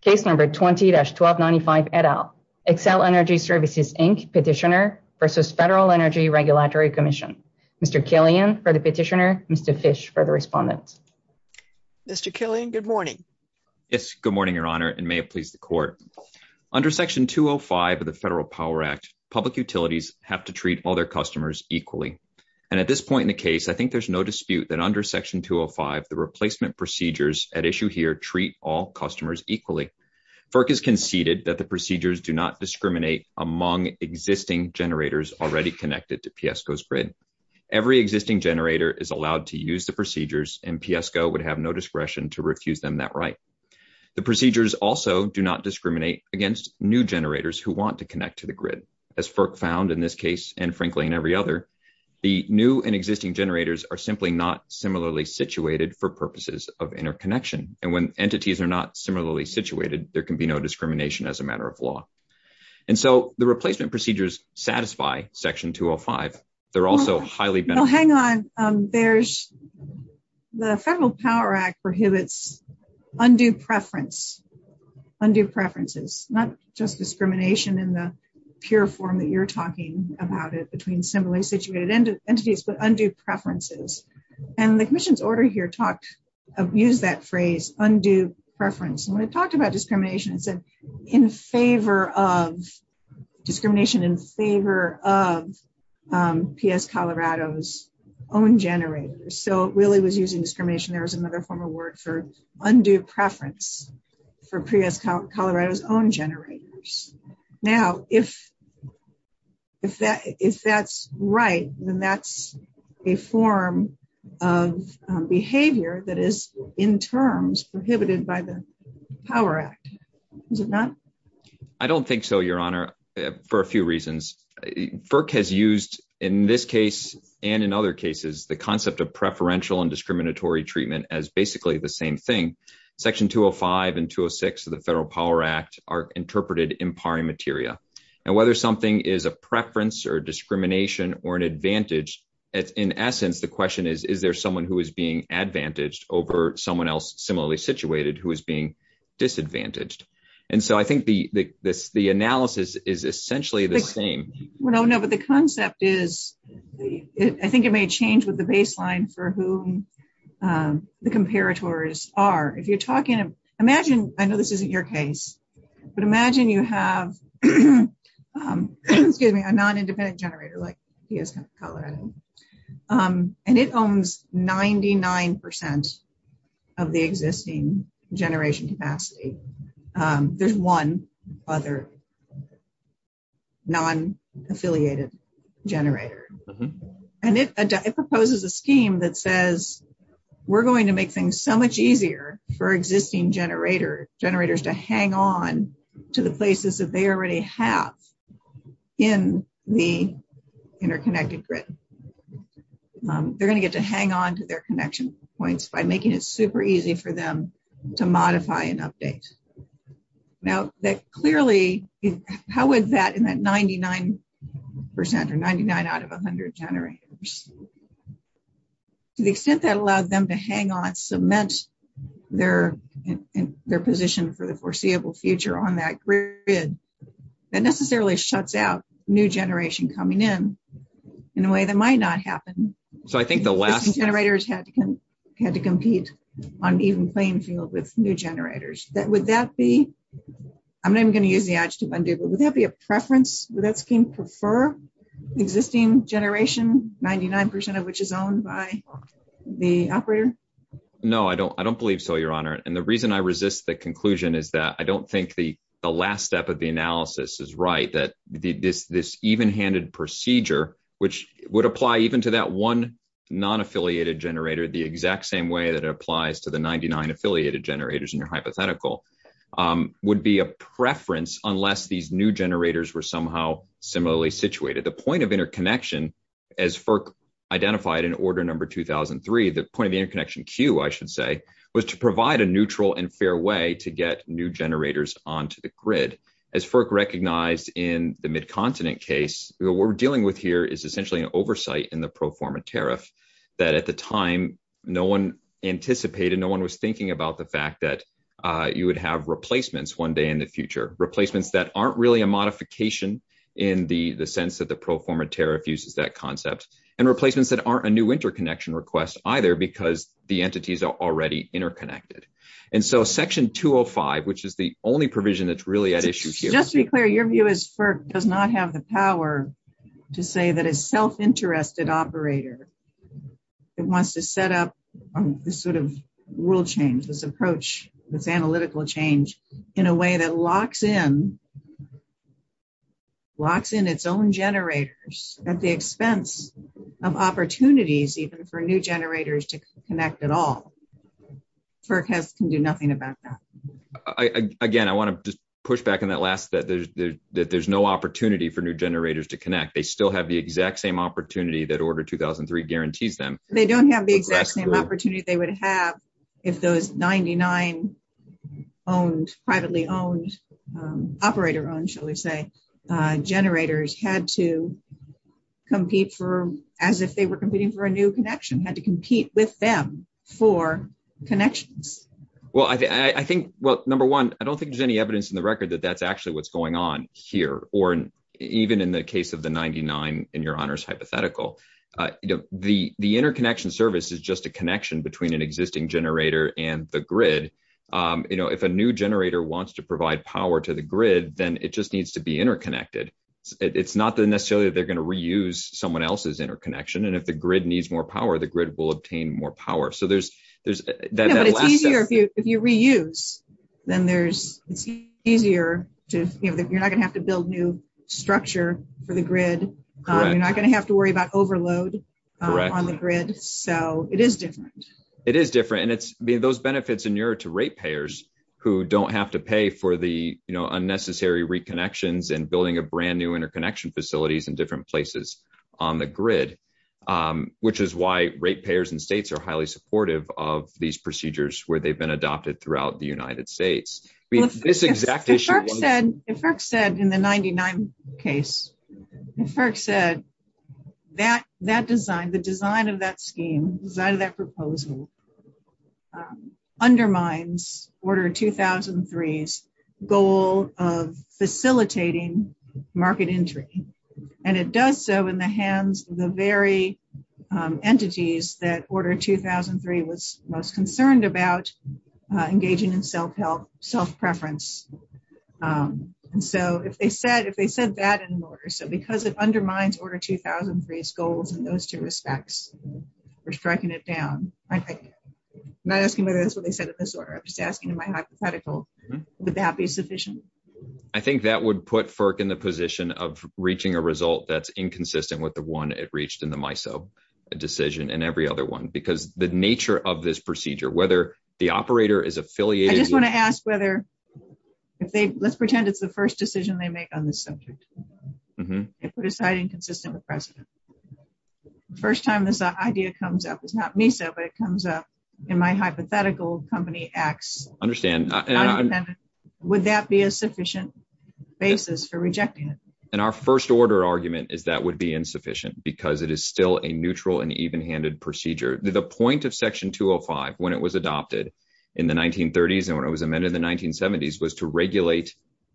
Case number 20-1295, et al. Xcel Energy Services, Inc. Petitioner v. Federal Energy Regulatory Commission. Mr. Killian for the petitioner, Mr. Fish for the respondent. Mr. Killian, good morning. Yes, good morning, Your Honor, and may it please the court. Under Section 205 of the Federal Power Act, public utilities have to treat all their customers equally. And at this point in the case, I think there's no dispute that under Section 205, the replacement procedures at issue here treat all customers equally. FERC has conceded that the procedures do not discriminate among existing generators already connected to PSCO's grid. Every existing generator is allowed to use the procedures, and PSCO would have no discretion to refuse them that right. The procedures also do not discriminate against new generators who want to connect to the grid. As FERC found in this case, and frankly in every other, the new and existing generators are simply not similarly situated for purposes of interconnection. And when entities are not similarly situated, there can be no discrimination as a matter of law. And so the replacement procedures satisfy Section 205. They're also highly- Oh, hang on. The Federal Power Act prohibits undue preference, undue preferences, not just entities, but undue preferences. And the commission's order here used that phrase, undue preference. And when it talked about discrimination, it said, discrimination in favor of PSColorado's own generators. So it really was using discrimination. There was another form of word for undue preference for PSColorado's own generators. Now, if that's right, then that's a form of behavior that is in terms prohibited by the Power Act. Is it not? I don't think so, Your Honor, for a few reasons. FERC has used, in this case and in other cases, the concept of preferential and discriminatory treatment as the same thing. Section 205 and 206 of the Federal Power Act are interpreted in pari materia. And whether something is a preference or discrimination or an advantage, in essence, the question is, is there someone who is being advantaged over someone else similarly situated who is being disadvantaged? And so I think the analysis is essentially the same. Well, no, but the concept is, I think it may change with the baseline for whom the comparators are. If you're talking, imagine, I know this isn't your case, but imagine you have a non-independent generator like PSColorado. And it owns 99% of the existing generation capacity. There's one other non-affiliated generator. And it proposes a scheme that says, we're going to make things so much easier for existing generators to hang on to the places that they already have in the interconnected grid. They're going to get to hang on to their connection points by making it super easy for them to modify and update. Now, that clearly, how is that in that 99% or 99 out of 100 generators? To the extent that allows them to hang on, cement their position for the foreseeable future on that grid, that necessarily shuts out new generation coming in in a way that might not happen. So I think the last generators had to compete on even playing field with new generators. Would that be, I'm not even going to use the adjective undo, but would that be a preference? Would that scheme prefer existing generation, 99% of which is owned by the operator? No, I don't believe so, Your Honor. And the reason I resist the conclusion is that I don't think the last step of the analysis is right, that this even-handed procedure, which would apply even to that one non-affiliated generator, the exact same way that it applies to the 99 affiliated generators in your hypothetical, would be a preference unless these new generators were somehow similarly situated. The point of interconnection, as FERC identified in order number 2003, the point of the interconnection queue, I should say, was to provide a neutral and fair way to get new generators onto the grid. As FERC recognized in the Mid-Continent case, what we're dealing with here is essentially an oversight in the pro forma tariff that at the time no one anticipated, no one was thinking about the fact that you would have replacements one day in the future, replacements that aren't really a modification in the sense that the pro forma tariff uses that concept, and replacements that aren't a new interconnection request either because the entities are already interconnected. And so section 205, which is the only provision that's really at issue here... Just to be clear, your view is FERC does not have the power to say that a self-interested operator wants to set up this sort of rule change, this approach, this analytical change in a way that locks in its own generators at the expense of opportunities even for new generators to connect at all. FERC can do nothing about that. Again, I want to just push back on that last that there's no opportunity for new generators to connect. They still have the exact same opportunity that order 2003 guarantees them. They don't have the exact same opportunity they would have if those 99 owned, privately owned, operator-owned, shall we say, generators had to compete for, as if they were competing for a new connection, had to compete with them for connections. Well, I think, well, number one, I don't think there's any evidence in the record that that's actually what's going on here, or even in the case of the 99 in your honor's hypothetical. The interconnection service is just a connection between an existing generator and the grid. If a new generator wants to provide power to the grid, then it just needs to be interconnected. It's not necessarily that they're going to reuse someone else's interconnection, and if the grid needs more power, the grid will obtain more power. But it's easier if you reuse. Then it's easier to, you're not going to have to build new structure for the grid. You're not going to have to worry about overload on the grid. So it is different. It is different, and those benefits are nearer to rate payers who don't have to pay for the, you know, unnecessary reconnections and building a brand new interconnection facilities in different places on the grid, which is why rate payers in states are highly supportive of these procedures where they've been adopted throughout the United States. If FERC said in the 99 case, if FERC said that design, the design of that scheme, design of that proposal undermines Order 2003's goal of facilitating market entry, and it does so in the hands of the very entities that Order 2003 was most concerned about engaging in self-help, self-preference. And so if they said, if they said that in order, so because it undermines Order 2003's goals in those two respects, we're striking it down. I'm not asking whether that's what they said in this order. I'm just asking in my hypothetical, would that be sufficient? I think that would put FERC in the position of reaching a result that's inconsistent with the one it reached in the MISO decision and every other one, because the nature of this procedure, whether the operator is affiliated. I just want to ask whether if they, let's pretend it's the first decision they make on this subject. They put aside inconsistent with precedent. The first time this idea comes up, it's not MISO, but it comes up in my hypothetical company, Axe. Would that be a sufficient basis for rejecting it? And our first order argument is that would be insufficient because it is still a neutral and even-handed procedure. The point of Section 205 when it was adopted in the 1930s and when it was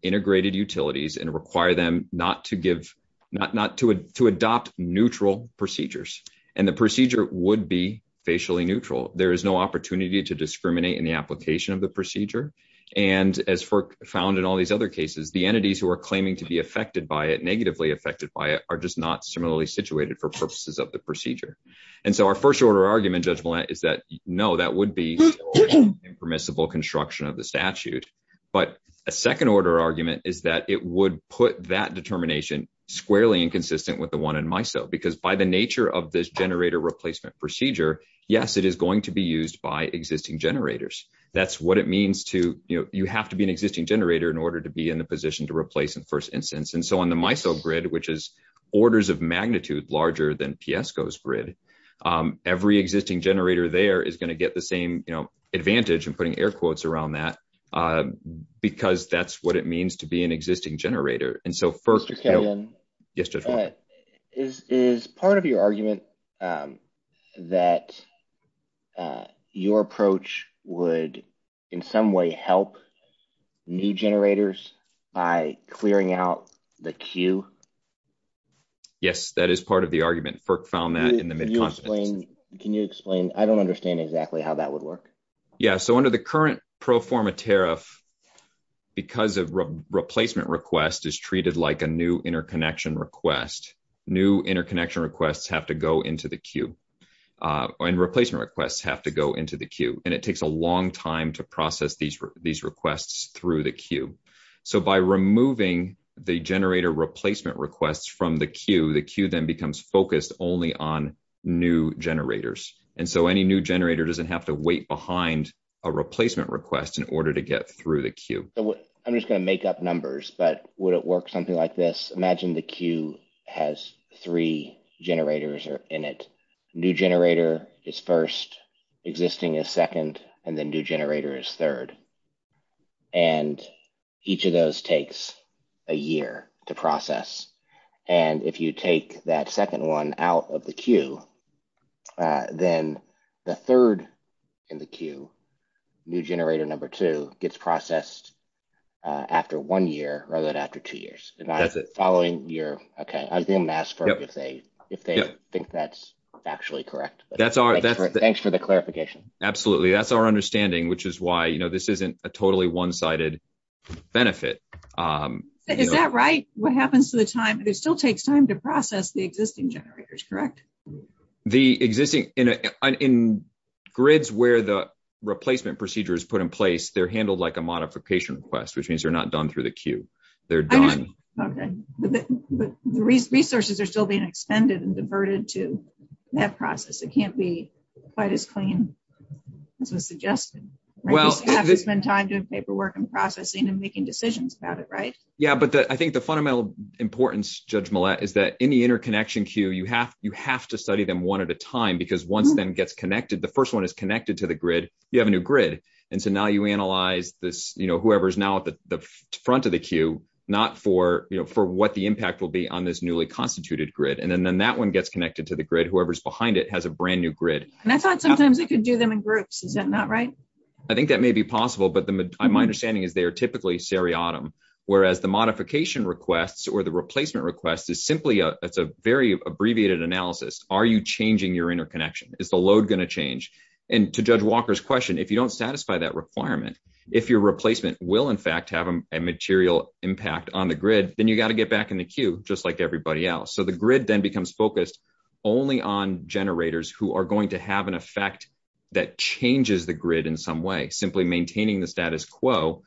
integrated utilities and require them not to give, not to adopt neutral procedures. And the procedure would be facially neutral. There is no opportunity to discriminate in the application of the procedure. And as FERC found in all these other cases, the entities who are claiming to be affected by it, negatively affected by it, are just not similarly situated for purposes of the procedure. And so our first order argument, Judge Millett, is that no, that would be impermissible construction of the statute. But a second order argument is that it would put that determination squarely inconsistent with the one in MISO because by the nature of this generator replacement procedure, yes, it is going to be used by existing generators. That's what it means to, you know, you have to be an existing generator in order to be in the position to replace in first instance. And so on the MISO grid, which is orders of magnitude larger than PSCO's grid, every existing generator there is going to get the same, you know, advantage and putting air quotes around that because that's what it means to be an existing generator. And so FERC... Is part of your argument that your approach would in some way help new generators by clearing out the queue? Yes, that is part of the argument. FERC found that in the mid-continent. Can you explain? I don't understand exactly how that would work. Yeah, so under the current pro forma tariff, because of replacement request is treated like a new interconnection request, new interconnection requests have to go into the queue and replacement requests have to go into the queue. And it takes a long time to process these requests through the queue. So by removing the generator replacement requests from the queue, the queue then becomes focused only on new generators. And so any new generator doesn't have to wait behind a replacement request in order to get through the queue. I'm just going to make up numbers, but would it work something like this? Imagine the queue has three generators in it. New generator is first, existing is second, and then new generator is third. And each of those takes a year to process. And if you take that second one out of the queue, then the third in the queue, new generator number two, gets processed after one year rather than after two years. That's it. Following your... Okay, I'm going to ask FERC if they think that's actually correct. Thanks for the clarification. Absolutely. That's our understanding, which is why this isn't a totally one-sided benefit. Is that right? What happens to the time? It still takes time to process the existing generators, correct? The existing... In grids where the replacement procedure is put in place, they're handled like a modification request, which means they're not done through the queue. They're done. Okay. But the resources are still being expended and diverted to that process. It can't be quite as clean as was suggested. You have to spend time doing paperwork and processing and making decisions about it, right? Yeah. But I think the fundamental importance, Judge Millett, is that in the interconnection queue, you have to study them one at a time because once then gets connected, the first one is connected to the grid, you have a new grid. And so now you analyze this, whoever's now at the front of the queue, not for what the whoever's behind it has a brand new grid. And I thought sometimes they could do them in groups. Is that not right? I think that may be possible, but my understanding is they are typically seriatim, whereas the modification requests or the replacement request is simply a very abbreviated analysis. Are you changing your interconnection? Is the load going to change? And to Judge Walker's question, if you don't satisfy that requirement, if your replacement will in fact have a material impact on the grid, then you got to get back in the queue, just like everybody else. So the grid then becomes focused only on generators who are going to have an effect that changes the grid in some way. Simply maintaining the status quo,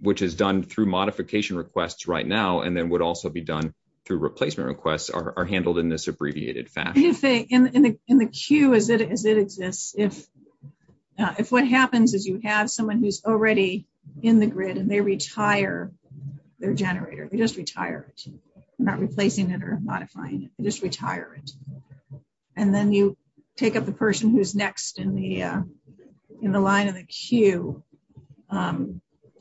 which is done through modification requests right now, and then would also be done through replacement requests, are handled in this abbreviated fashion. In the queue as it exists, if what happens is you have someone who's already in the grid and they retire their generator, they just retire it. They're not replacing it or modifying it. They just retire it. And then you take up the person who's next in the line of the queue.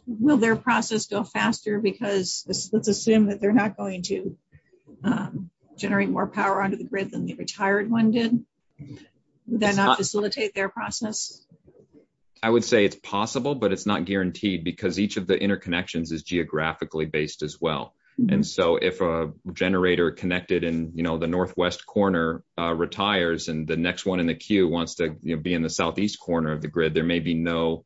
Will their process go faster? Because let's assume that they're not going to generate more power onto the grid than the retired one did. Would that not facilitate their process? I would say it's possible, but it's not guaranteed, because each of the interconnections is geographically based as well. And so if a generator connected in the northwest corner retires and the next one in the queue wants to be in the southeast corner of the grid, there may be no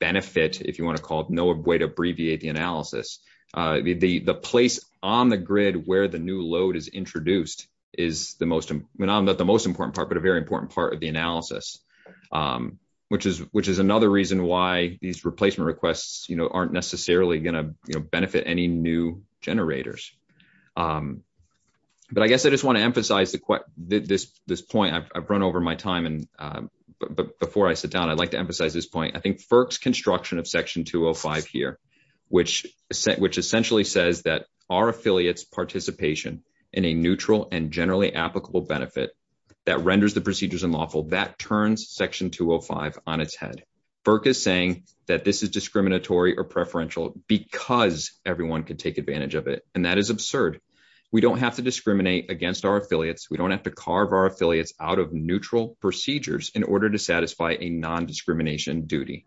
benefit, if you want to call it, no way to abbreviate the analysis. The place on the grid where the new load is introduced is not the most important part, a very important part of the analysis, which is another reason why these replacement requests aren't necessarily going to benefit any new generators. But I guess I just want to emphasize this point. I've run over my time, but before I sit down, I'd like to emphasize this point. I think FERC's construction of Section 205 here, which essentially says that our affiliate's that renders the procedures unlawful, that turns Section 205 on its head. FERC is saying that this is discriminatory or preferential because everyone could take advantage of it. And that is absurd. We don't have to discriminate against our affiliates. We don't have to carve our affiliates out of neutral procedures in order to satisfy a non-discrimination duty.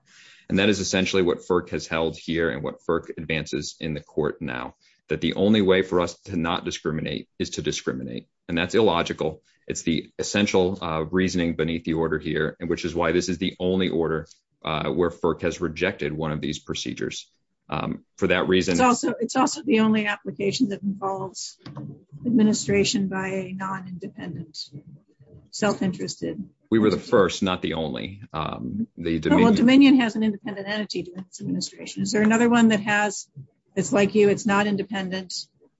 And that is essentially what FERC has held here and what FERC advances in the court now, that the only way for us to not discriminate is to discriminate. And that's illogical. It's the essential reasoning beneath the order here, which is why this is the only order where FERC has rejected one of these procedures for that reason. It's also the only application that involves administration by a non-independent, self-interested. We were the first, not the only. Dominion has an independent entity to its administration. Is there another one that has, it's like you, it's not independent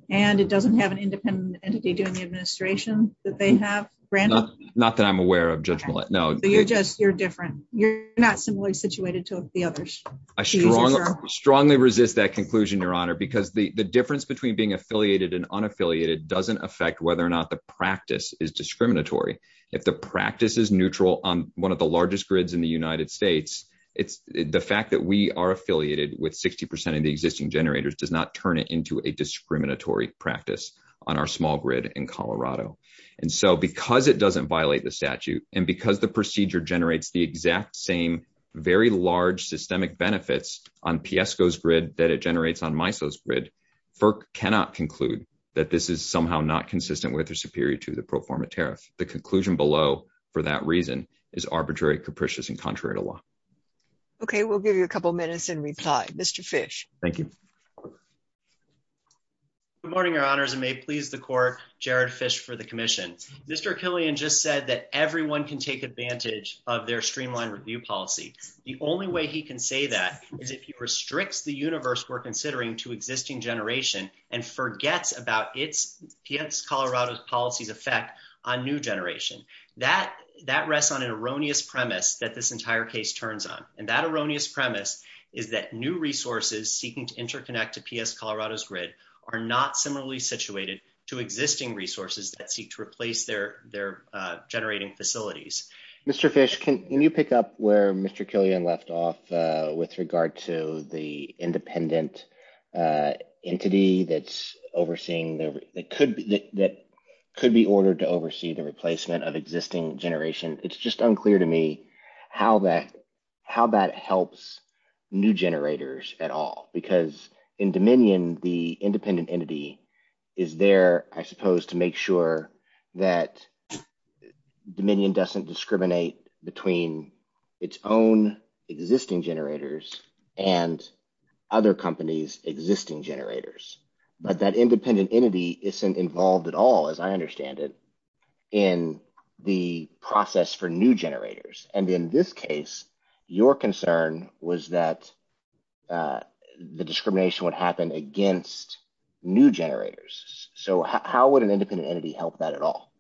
and it doesn't have an independent entity doing the administration that they have? Not that I'm aware of Judge Millett. No, you're just, you're different. You're not similarly situated to the others. I strongly resist that conclusion, Your Honor, because the difference between being affiliated and unaffiliated doesn't affect whether or not the practice is discriminatory. If the practice is neutral on one of the largest grids in the United States, it's the fact that we are affiliated with 60% of the existing generators does not turn it into a discriminatory practice on our small grid in Colorado. And so because it doesn't violate the statute and because the procedure generates the exact same very large systemic benefits on Piesco's grid that it generates on Miso's grid, FERC cannot conclude that this is somehow not consistent with or superior to the pro forma tariff. The conclusion below for that reason is arbitrary, capricious and contrary to law. Okay, we'll give you a couple minutes and reply. Mr. Fish. Thank you. Good morning, Your Honors, and may it please the Court, Jared Fish for the Commission. Mr. Killian just said that everyone can take advantage of their streamlined review policy. The only way he can say that is if he restricts the universe we're considering to existing generation and forgets about its, P.S. Colorado's policy's effect on new generation. That rests on an erroneous premise that this entire case turns on. And that erroneous premise is that new resources seeking to interconnect to P.S. Colorado's grid are not similarly situated to existing resources that seek to replace their generating facilities. Mr. Fish, can you pick up where Mr. Killian left off with regard to the independent entity that could be ordered to oversee the replacement of existing generation? It's just unclear to me how that helps new generators at all. Because in Dominion, the independent entity is there, I suppose, to make sure that Dominion doesn't discriminate between its own existing generators and other companies' existing generators. But that independent entity isn't involved at all, as I understand it, in the process for new generators. And in this case, your concern was that the discrimination would happen against new generators. So how would an independent entity help that at all?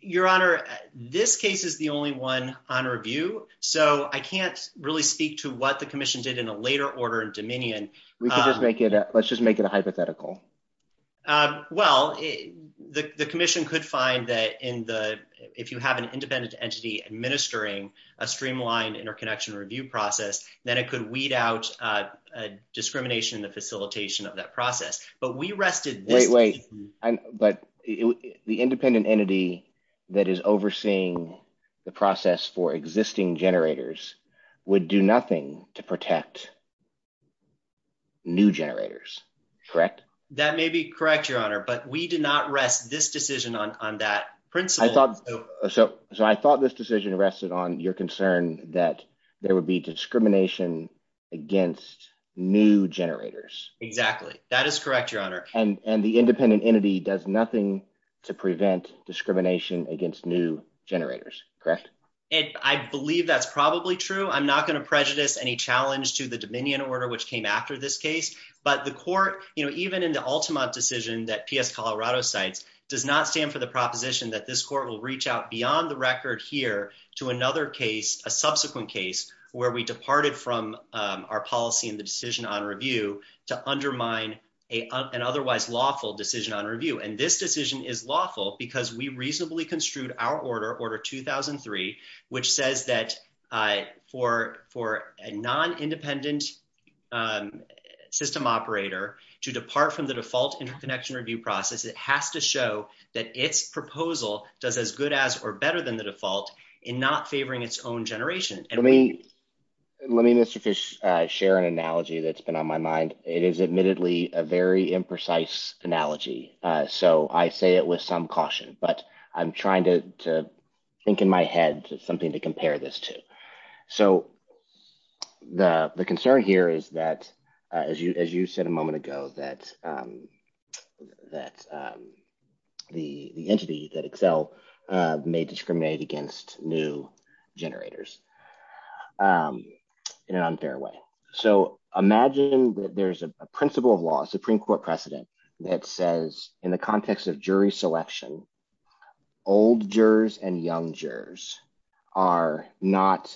Your Honor, this case is the only one on review. So I can't really speak to what the Commission did in a later order in Dominion. Let's just make it a hypothetical. Well, the Commission could find that if you have an independent entity administering a streamlined interconnection review process, then it could weed out discrimination in the facilitation of that process. But we rested this- But the independent entity that is overseeing the process for existing generators would do nothing to protect new generators, correct? That may be correct, Your Honor. But we did not rest this decision on that principle. So I thought this decision rested on your concern that there would be discrimination against new generators. Exactly. That is correct, Your Honor. And the independent entity does nothing to prevent discrimination against new generators, correct? And I believe that's probably true. I'm not going to prejudice any challenge to the Dominion order which came after this case. But the Court, even in the Ultima decision that P.S. Colorado cites, does not stand for the proposition that this Court will reach out beyond the record here to another case, a subsequent case, where we departed from our policy and the decision on decision on review. And this decision is lawful because we reasonably construed our order, Order 2003, which says that for a non-independent system operator to depart from the default interconnection review process, it has to show that its proposal does as good as or better than the default in not favoring its own generation. Let me, Mr. Fish, share an analogy that's been on my mind. It is admittedly a very imprecise analogy, so I say it with some caution. But I'm trying to think in my head something to compare this to. So the concern here is that, as you said a moment ago, that the entity that Excel may discriminate against new generators in an unfair way. So imagine that there's a principle of law, a Supreme Court precedent, that says in the context of jury selection, old jurors and young jurors are not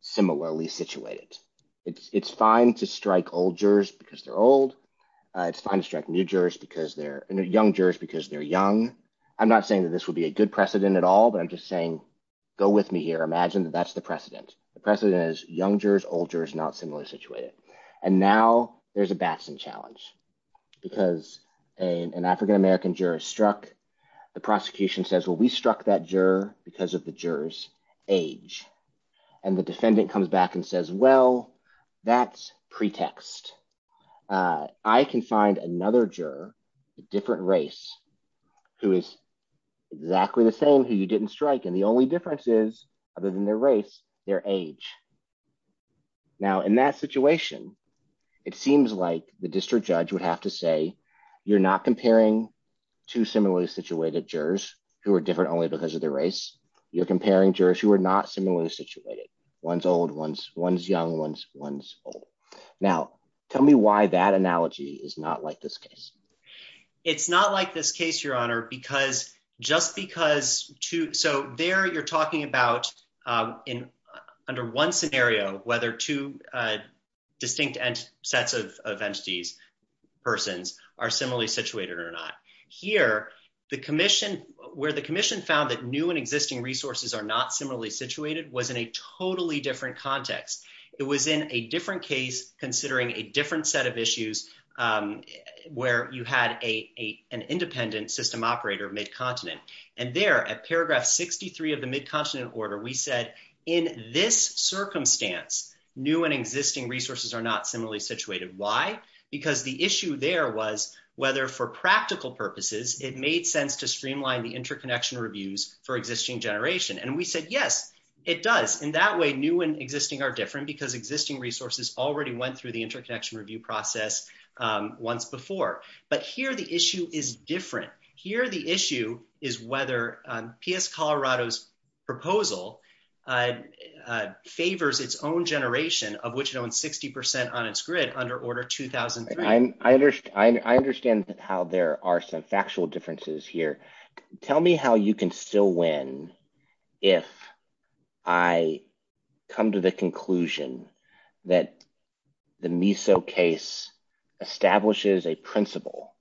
similarly situated. It's fine to strike old jurors because they're old. It's fine to strike new jurors because they're, you know, young jurors because they're young. I'm not saying that this would be a good precedent at all, but I'm just saying go with me here. Imagine that that's the precedent. The precedent is young jurors, old jurors not similarly situated. And now there's a Batson challenge because an African-American juror struck. The prosecution says, well, we struck that juror because of the juror's age. And the defendant comes back and says, well, that's pretext. I can find another juror, a different race, who is exactly the same who you didn't strike. And the only difference is, other than their race, their age. Now in that situation, it seems like the district judge would have to say, you're not comparing two similarly situated jurors who are different only because of their race. You're comparing jurors who are not similarly situated. One's old, one's young, one's old. Now tell me why that analogy is not like this case. It's not like this case, Your Honor, because just because two, so there you're talking about under one scenario, whether two distinct sets of entities, persons, are similarly situated or not. Here, where the commission found that new and existing resources are not similarly situated was in a totally different context. It was in a different case, considering a different set of issues, where you had an independent system operator, and there, at paragraph 63 of the Mid-Continent Order, we said, in this circumstance, new and existing resources are not similarly situated. Why? Because the issue there was whether, for practical purposes, it made sense to streamline the interconnection reviews for existing generation. And we said, yes, it does. In that way, new and existing are different because existing resources already went through the interconnection review process once before. But here, the issue is whether P.S. Colorado's proposal favors its own generation, of which it owns 60 percent on its grid, under Order 2003. I understand how there are some factual differences here. Tell me how you can still win if I come to the conclusion that the MISO case establishes a principle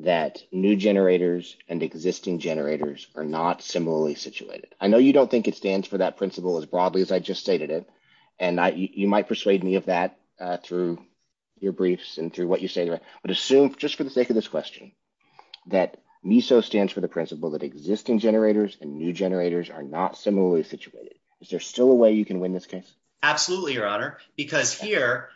that new generators and existing generators are not similarly situated. I know you don't think it stands for that principle as broadly as I just stated it, and you might persuade me of that through your briefs and through what you say, but assume, just for the sake of this question, that MISO stands for the principle that existing generators and new generators are not similarly situated. Is there still a way you can win this case? Absolutely, Your Honor, because here,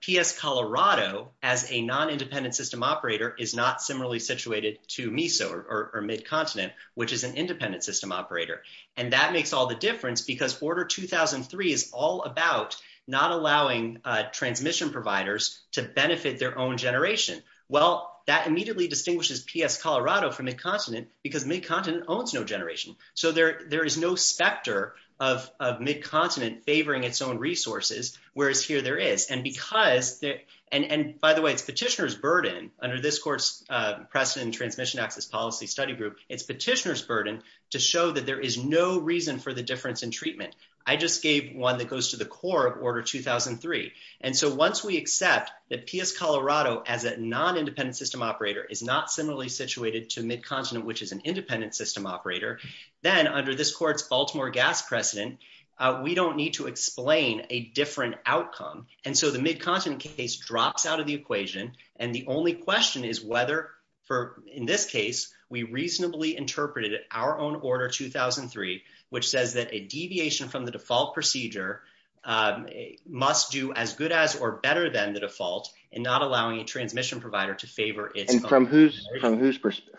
P.S. Colorado, as a non-independent system operator, is not similarly situated to MISO, or Mid-Continent, which is an independent system operator. And that makes all the difference because Order 2003 is all about not allowing transmission providers to benefit their own generation. Well, that immediately distinguishes P.S. Colorado from Mid-Continent because Mid-Continent owns no generation. So there is no specter of Mid-Continent favoring its own resources, whereas here there is. And by the way, it's petitioner's burden under this court's precedent transmission access policy study group, it's petitioner's burden to show that there is no reason for the difference in treatment. I just gave one that goes to the core of Order 2003. And so once we accept that P.S. Colorado, as a non-independent system operator, is not similarly situated to Mid-Continent, which is an independent system operator, then under this court's Baltimore gas precedent, we don't need to explain a different outcome. And so the Mid-Continent case drops out of the equation. And the only question is whether, in this case, we reasonably interpreted our own Order 2003, which says that a deviation from the default procedure must do as good as or better than the default in not allowing a transmission provider to favor its own generation. And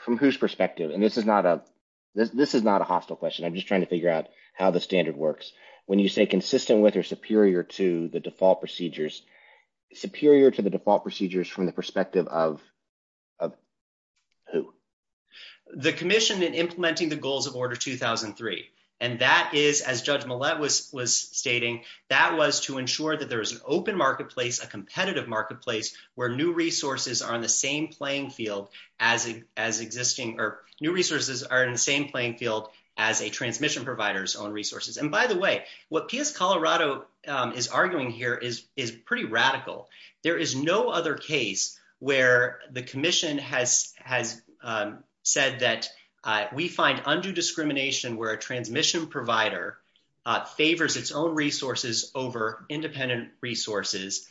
from whose perspective? And this is not a hostile question. I'm just asking how the standard works. When you say consistent with or superior to the default procedures, superior to the default procedures from the perspective of who? The commission in implementing the goals of Order 2003. And that is, as Judge Millett was stating, that was to ensure that there is an open marketplace, a competitive marketplace, where new resources are in the same playing field as existing or new resources are in the same playing field as a transmission provider's own resources. And by the way, what P.S. Colorado is arguing here is pretty radical. There is no other case where the commission has said that we find undue discrimination where a transmission provider favors its own resources over independent resources,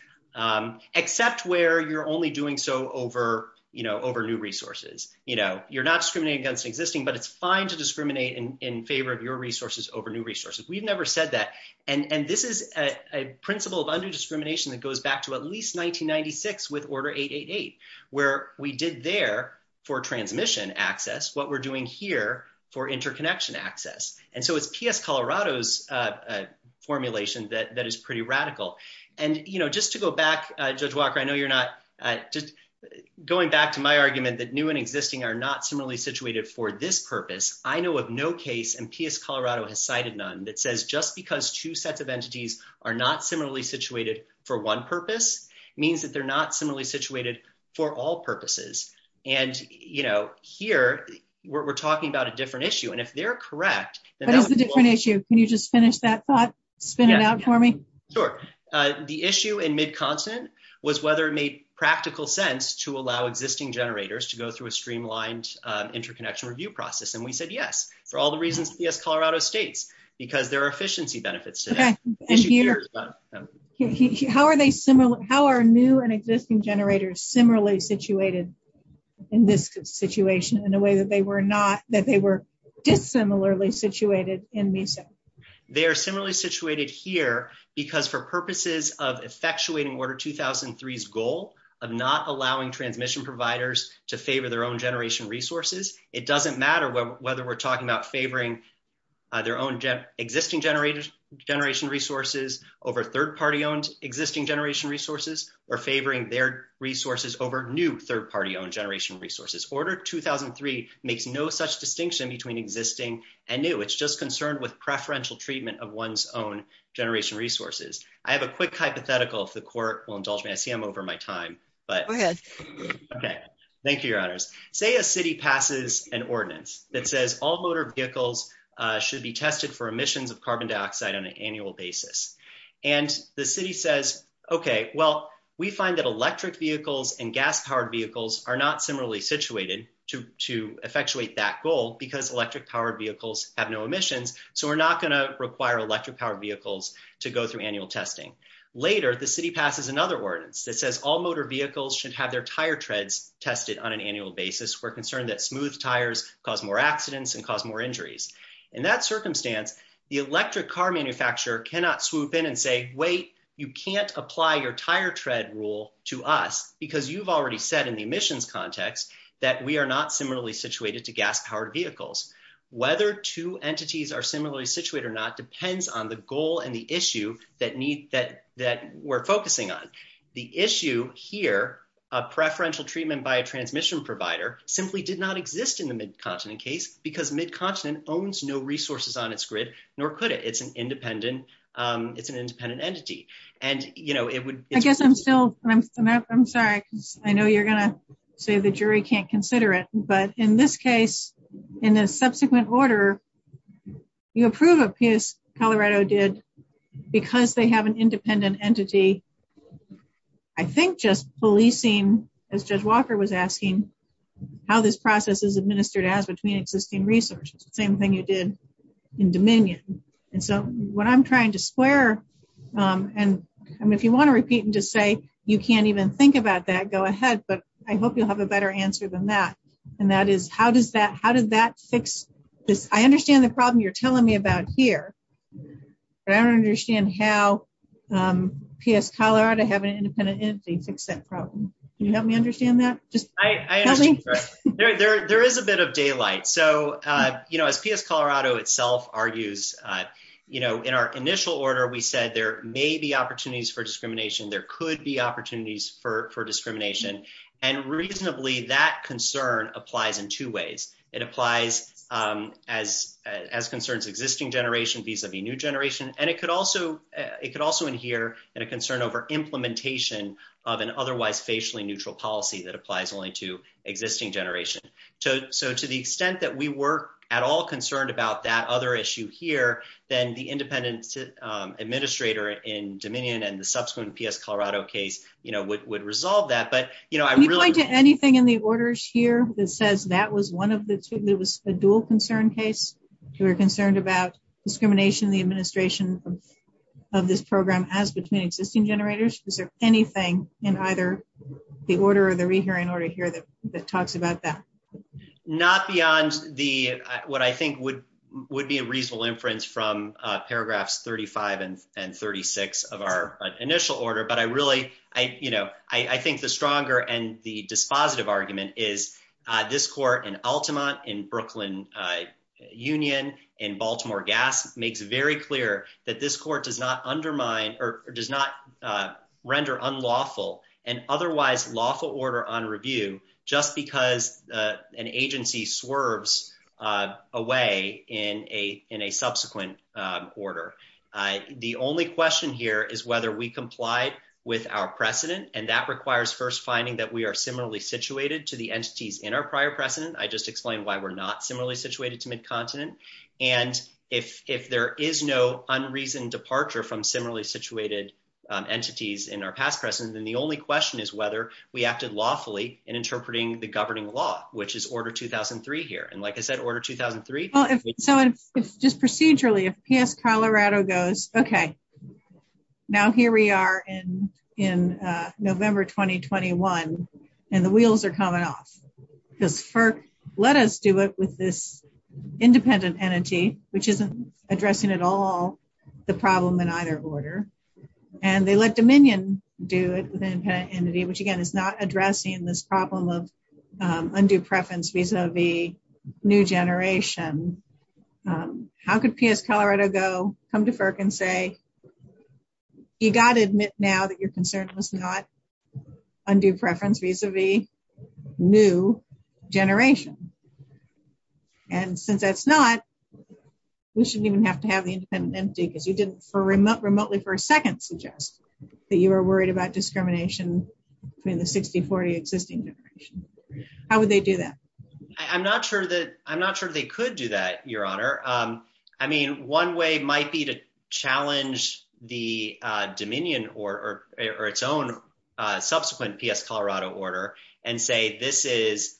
except where you're only doing so over new resources. You're not discriminating against existing, but it's fine to discriminate in favor of your resources over new resources. We've never said that. And this is a principle of undue discrimination that goes back to at least 1996 with Order 888, where we did there for transmission access what we're doing here for interconnection access. And so it's P.S. Colorado's formulation that is pretty radical. And, you know, just to go back, Judge Walker, I know you're not just going back to my argument that new and existing are not similarly situated for this purpose. I know of no case, and P.S. Colorado has cited none, that says just because two sets of entities are not similarly situated for one purpose means that they're not similarly situated for all purposes. And, you know, here we're talking about a different issue. And if they're correct, then that's a different issue. Can you just finish that thought, spin it out for me? Sure. The issue in mid-continent was whether it made practical sense to allow existing generators to go through a streamlined interconnection review process. And we said yes, for all the reasons P.S. Colorado states, because there are efficiency benefits to that. Okay. And Peter, how are new and existing generators similarly situated in this situation in a way that they were dissimilarly situated in MESA? They are similarly situated here because for purposes of effectuating Order 2003's goal of not allowing transmission providers to favor their own generation resources, it doesn't matter whether we're talking about favoring their own existing generation resources over third-party-owned existing generation resources or favoring their resources over new third-party-owned generation resources. Order 2003 makes no such distinction between existing and new. It's just concerned with preferential treatment of one's own generation resources. I have a quick hypothetical if the court will indulge me. I see I'm over my time. Go ahead. Okay. Thank you, Your Honors. Say a city passes an ordinance that says all motor vehicles should be tested for emissions of carbon dioxide on an annual basis. And the city says, okay, well, we find that electric vehicles and gas-powered vehicles are not similarly situated to effectuate that goal because electric-powered vehicles have no emissions, so we're not going to require electric-powered vehicles to go through annual testing. Later, the city passes another ordinance that says all motor vehicles should have their tire treads tested on an annual basis. We're concerned that smooth tires cause more accidents and cause more injuries. In that circumstance, the electric car manufacturer cannot swoop in and say, wait, you can't apply your tire tread rule to us because you've already said in the emissions context that we are not similarly situated to on the goal and the issue that we're focusing on. The issue here of preferential treatment by a transmission provider simply did not exist in the Mid-Continent case because Mid-Continent owns no resources on its grid, nor could it. It's an independent entity. And, you know, it would- I guess I'm still, I'm sorry, I know you're going to say the jury can't consider it, but in this case, in a subsequent order, you approve a piece Colorado did because they have an independent entity. I think just policing, as Judge Walker was asking, how this process is administered as between existing resources, same thing you did in Dominion. And so what I'm trying to square, and if you want to repeat and just say you can't even think about that, go ahead, but I hope you'll have a better answer than that. And that is, how does that, how does that fix this? I understand the problem you're telling me about here, but I don't understand how PS Colorado have an independent entity fix that problem. Can you help me understand that? Just tell me. There is a bit of daylight. So, you know, as PS Colorado itself argues, you know, in our initial order, we said there may be opportunities for discrimination. There could be opportunities for discrimination. And reasonably, that concern applies in two ways. It applies as concerns existing generation vis-a-vis new generation. And it could also, it could also adhere in a concern over implementation of an otherwise facially neutral policy that applies only to existing generation. So to the extent that we were at all concerned about that other issue here, then the independent administrator in Dominion and the subsequent PS Colorado case, you know, would resolve that. But, you know, I really... Can you point to anything in the orders here that says that was one of the two, that was a dual concern case? You were concerned about discrimination in the administration of this program as between existing generators? Is there anything in either the order or the rehearing order here that talks about that? Not beyond the, what I think would be a paragraph 35 and 36 of our initial order. But I really, you know, I think the stronger and the dispositive argument is this court in Altamont, in Brooklyn Union, in Baltimore Gas, makes very clear that this court does not undermine or does not render unlawful and otherwise lawful order on review just because an agency swerves away in a subsequent order. The only question here is whether we complied with our precedent. And that requires first finding that we are similarly situated to the entities in our prior precedent. I just explained why we're not similarly situated to mid-continent. And if there is no unreason departure from similarly situated entities in our past precedent, then the only question is whether we acted lawfully in interpreting the governing law, which is order 2003 here. And like I said, order 2003. Well, if so, if just procedurally, if PS Colorado goes, okay, now here we are in November 2021, and the wheels are coming off, because FERC let us do it with this independent entity, which isn't addressing at all the problem in either order. And they let Dominion do it with an independent entity, which again, is not addressing this problem of undue preference vis-a-vis new generation. How could PS Colorado go, come to FERC and say, you got to admit now that your concern was not undue preference vis-a-vis new generation. And since that's not, we shouldn't even have to have the independent entity, because you didn't remotely for a second suggest that you were worried about discrimination between the 60, 40 existing generation. How would they do that? I'm not sure that they could do that, Your Honor. I mean, one way might be to challenge the Dominion or its own subsequent PS Colorado order and say, this is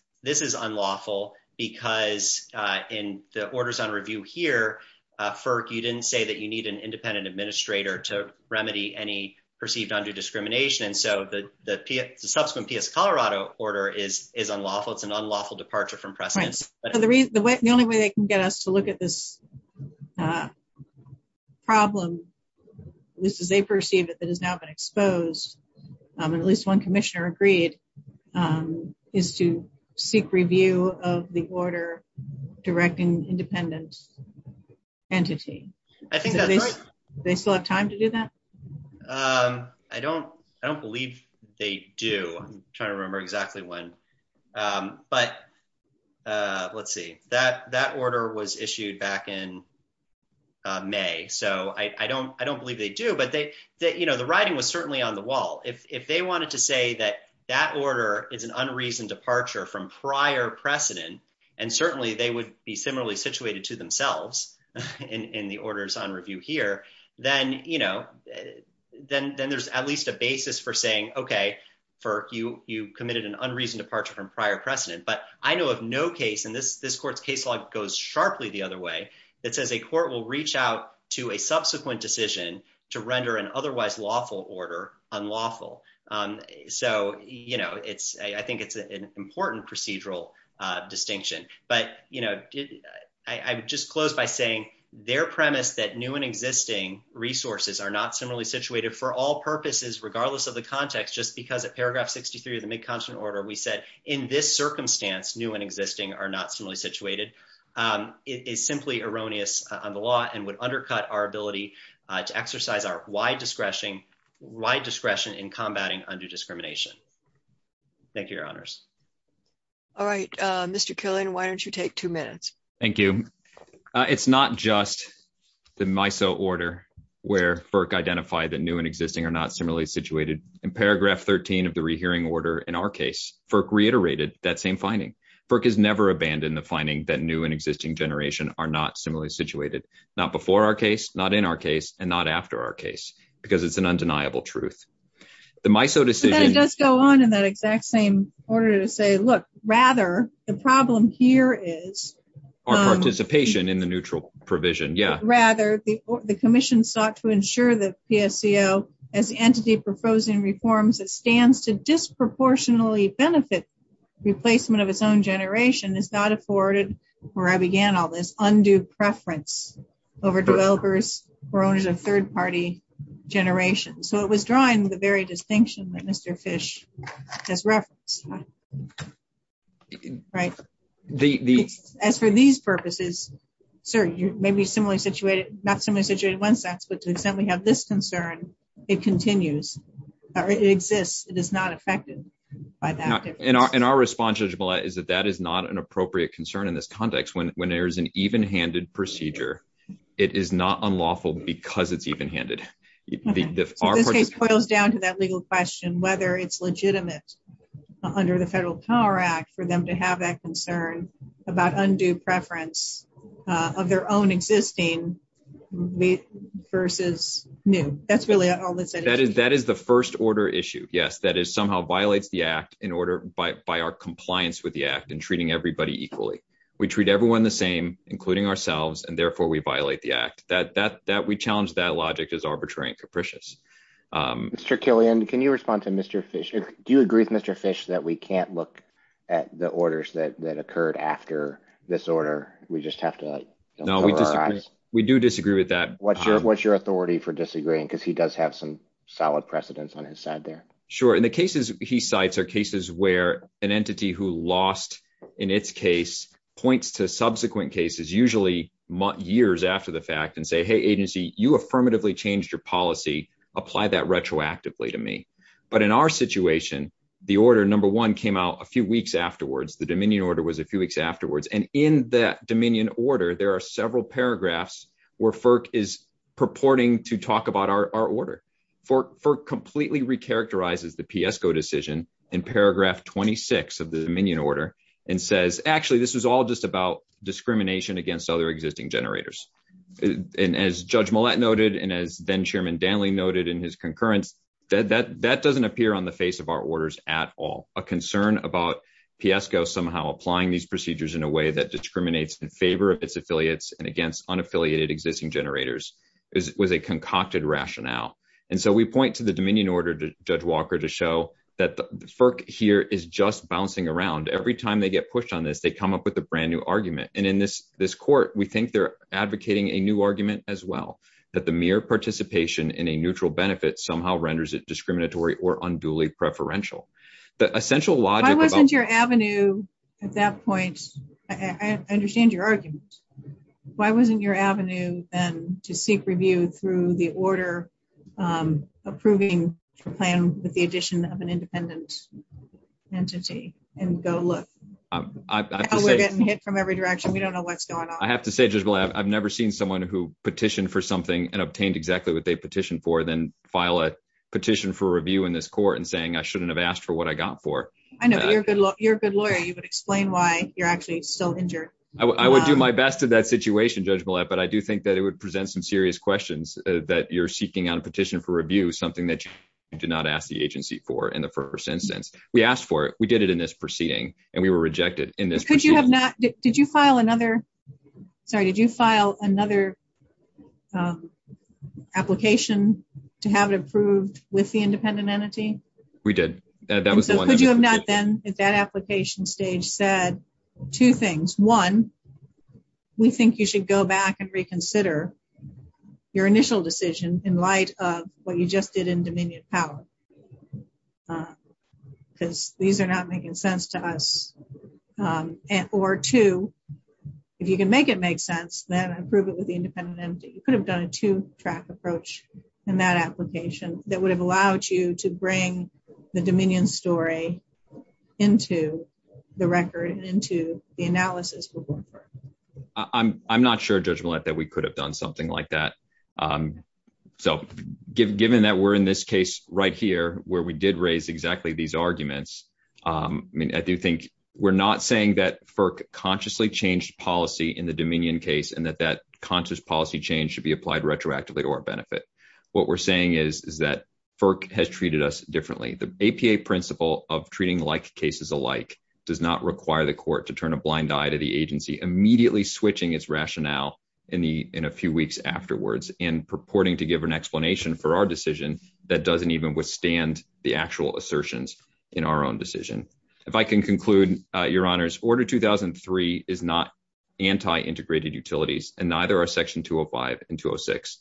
unlawful because in the orders on review here, FERC, you didn't say that you need an independent administrator to remedy any perceived undue discrimination. And so the subsequent PS Colorado order is unlawful. It's an unlawful departure from precedence. The only way they can get us to look at this problem, this is a perceived that has now been the order directing independent entity. I think they still have time to do that. I don't, I don't believe they do. I'm trying to remember exactly when, but let's see that, that order was issued back in May. So I don't, I don't believe they do, but they, you know, the writing was certainly on the wall. If they wanted to say that that order is an unreasoned departure from prior precedent, and certainly they would be similarly situated to themselves in the orders on review here, then, you know, then, then there's at least a basis for saying, okay, FERC, you, you committed an unreasoned departure from prior precedent, but I know of no case in this, this court's case log goes sharply the other way. It says a court will reach out to a subsequent decision to render an otherwise lawful order unlawful. So, you know, it's, I think it's an important procedural distinction, but, you know, I would just close by saying their premise that new and existing resources are not similarly situated for all purposes, regardless of the context, just because at paragraph 63 of the mid-continent order, we said in this circumstance, new and existing are not similarly situated is simply erroneous on the law and would undercut our ability to exercise our wide discretion, wide discretion in combating undue discrimination. Thank you, your honors. All right, Mr. Killian, why don't you take two minutes? Thank you. It's not just the MISO order where FERC identified that new and existing are not similarly situated. In paragraph 13 of the rehearing order in our case, FERC reiterated that same finding. FERC has never abandoned the finding that new and existing generation are not similarly situated, not before our case, not in our case, and not after our case, because it's an undeniable truth. The MISO decision... It does go on in that exact same order to say, look, rather, the problem here is... Our participation in the neutral provision, yeah. Rather, the commission sought to ensure that PSCO, as the entity proposing reforms that stands to disproportionately benefit replacement of its own generation, is not afforded, where I began all this, undue preference over developers or owners of third-party generations. So it was drawing the very distinction that Mr. Fish has referenced. As for these purposes, sir, you may be similarly situated, not similarly situated in one sense, but to the extent we have this concern, it continues, or it exists, it is not affected by that difference. And our response, Judge Millett, is that that is not an appropriate concern in this context. When there is an even-handed procedure, it is not unlawful because it's even-handed. So this case boils down to that legal question, whether it's legitimate under the Federal Power Act for them to have that concern about undue preference of their own existing versus new. That's really all that's at issue. That is the first-order issue, yes. That somehow violates the Act in order, by our compliance with the Act and treating everybody equally. We treat everyone the same, including ourselves, and therefore we violate the Act. We challenge that logic as arbitrary and capricious. Mr. Killian, can you respond to Mr. Fish? Do you agree with Mr. Fish that we can't look at the orders that occurred after this order? We just have to cover our eyes? No, we do disagree with that. What's your authority for disagreeing? Because he does have some solid precedents on his side there. Sure. And the cases he cites are cases where an entity who lost in its case points to subsequent cases, usually years after the fact, and say, hey, agency, you affirmatively changed your policy. Apply that retroactively to me. But in our situation, the order, number one, came out a few weeks afterwards. The Dominion order was a few weeks afterwards. And in that Dominion order, there are several paragraphs where FERC is purporting to talk about our order. FERC completely recharacterizes the 26th of the Dominion order and says, actually, this was all just about discrimination against other existing generators. And as Judge Millett noted, and as then Chairman Danley noted in his concurrence, that doesn't appear on the face of our orders at all. A concern about PSCO somehow applying these procedures in a way that discriminates in favor of its affiliates and against unaffiliated existing generators was a concocted rationale. And so we point to the is just bouncing around. Every time they get pushed on this, they come up with a brand new argument. And in this court, we think they're advocating a new argument as well, that the mere participation in a neutral benefit somehow renders it discriminatory or unduly preferential. The essential logic about- Why wasn't your avenue at that point, I understand your argument. Why wasn't your avenue then to seek review through the order approving a plan with the addition of an independent entity and go look? We're getting hit from every direction. We don't know what's going on. I have to say, Judge Millett, I've never seen someone who petitioned for something and obtained exactly what they petitioned for, then file a petition for review in this court and saying, I shouldn't have asked for what I got for. I know, but you're a good lawyer. You could explain why you're actually still injured. I would do my best to that situation, Judge Millett, but I do think that it would present some serious questions that you're seeking out a petition for review, something that you did not ask the agency for in the first instance. We asked for it. We did it in this proceeding and we were rejected in this- Could you have not... Did you file another... Sorry. Did you file another application to have it approved with the independent entity? We did. That was the one- Could you have not then at that application stage said two things. One, we think you should go back and reconsider your initial decision in light of what you just did in Dominion Power, because these are not making sense to us. Or two, if you can make it make sense, then approve it with the independent entity. You could have done a two-track approach in that application that would have allowed you to bring the Dominion story into the record and into the analysis we're going for. I'm not sure, Judge Millett, that we could have done something like that. So given that we're in this case right here, where we did raise exactly these arguments, I do think we're not saying that FERC consciously changed policy in the Dominion case and that that conscious policy change should be applied retroactively to our benefit. What we're saying is that FERC has treated us differently. The APA principle of treating like cases alike does not require the court to turn a blind eye to the in a few weeks afterwards and purporting to give an explanation for our decision that doesn't even withstand the actual assertions in our own decision. If I can conclude, Your Honors, Order 2003 is not anti-integrated utilities and neither are Section 205 and 206.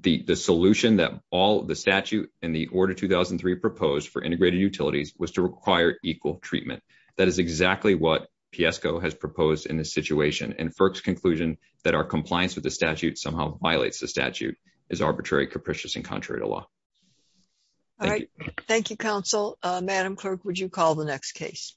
The solution that all the statute and the Order 2003 proposed for integrated utilities was to require equal treatment. That is exactly what PSCO has proposed in this situation. And compliance with the statute somehow violates the statute as arbitrary, capricious, and contrary to law. All right. Thank you, counsel. Madam Clerk, would you call the next case?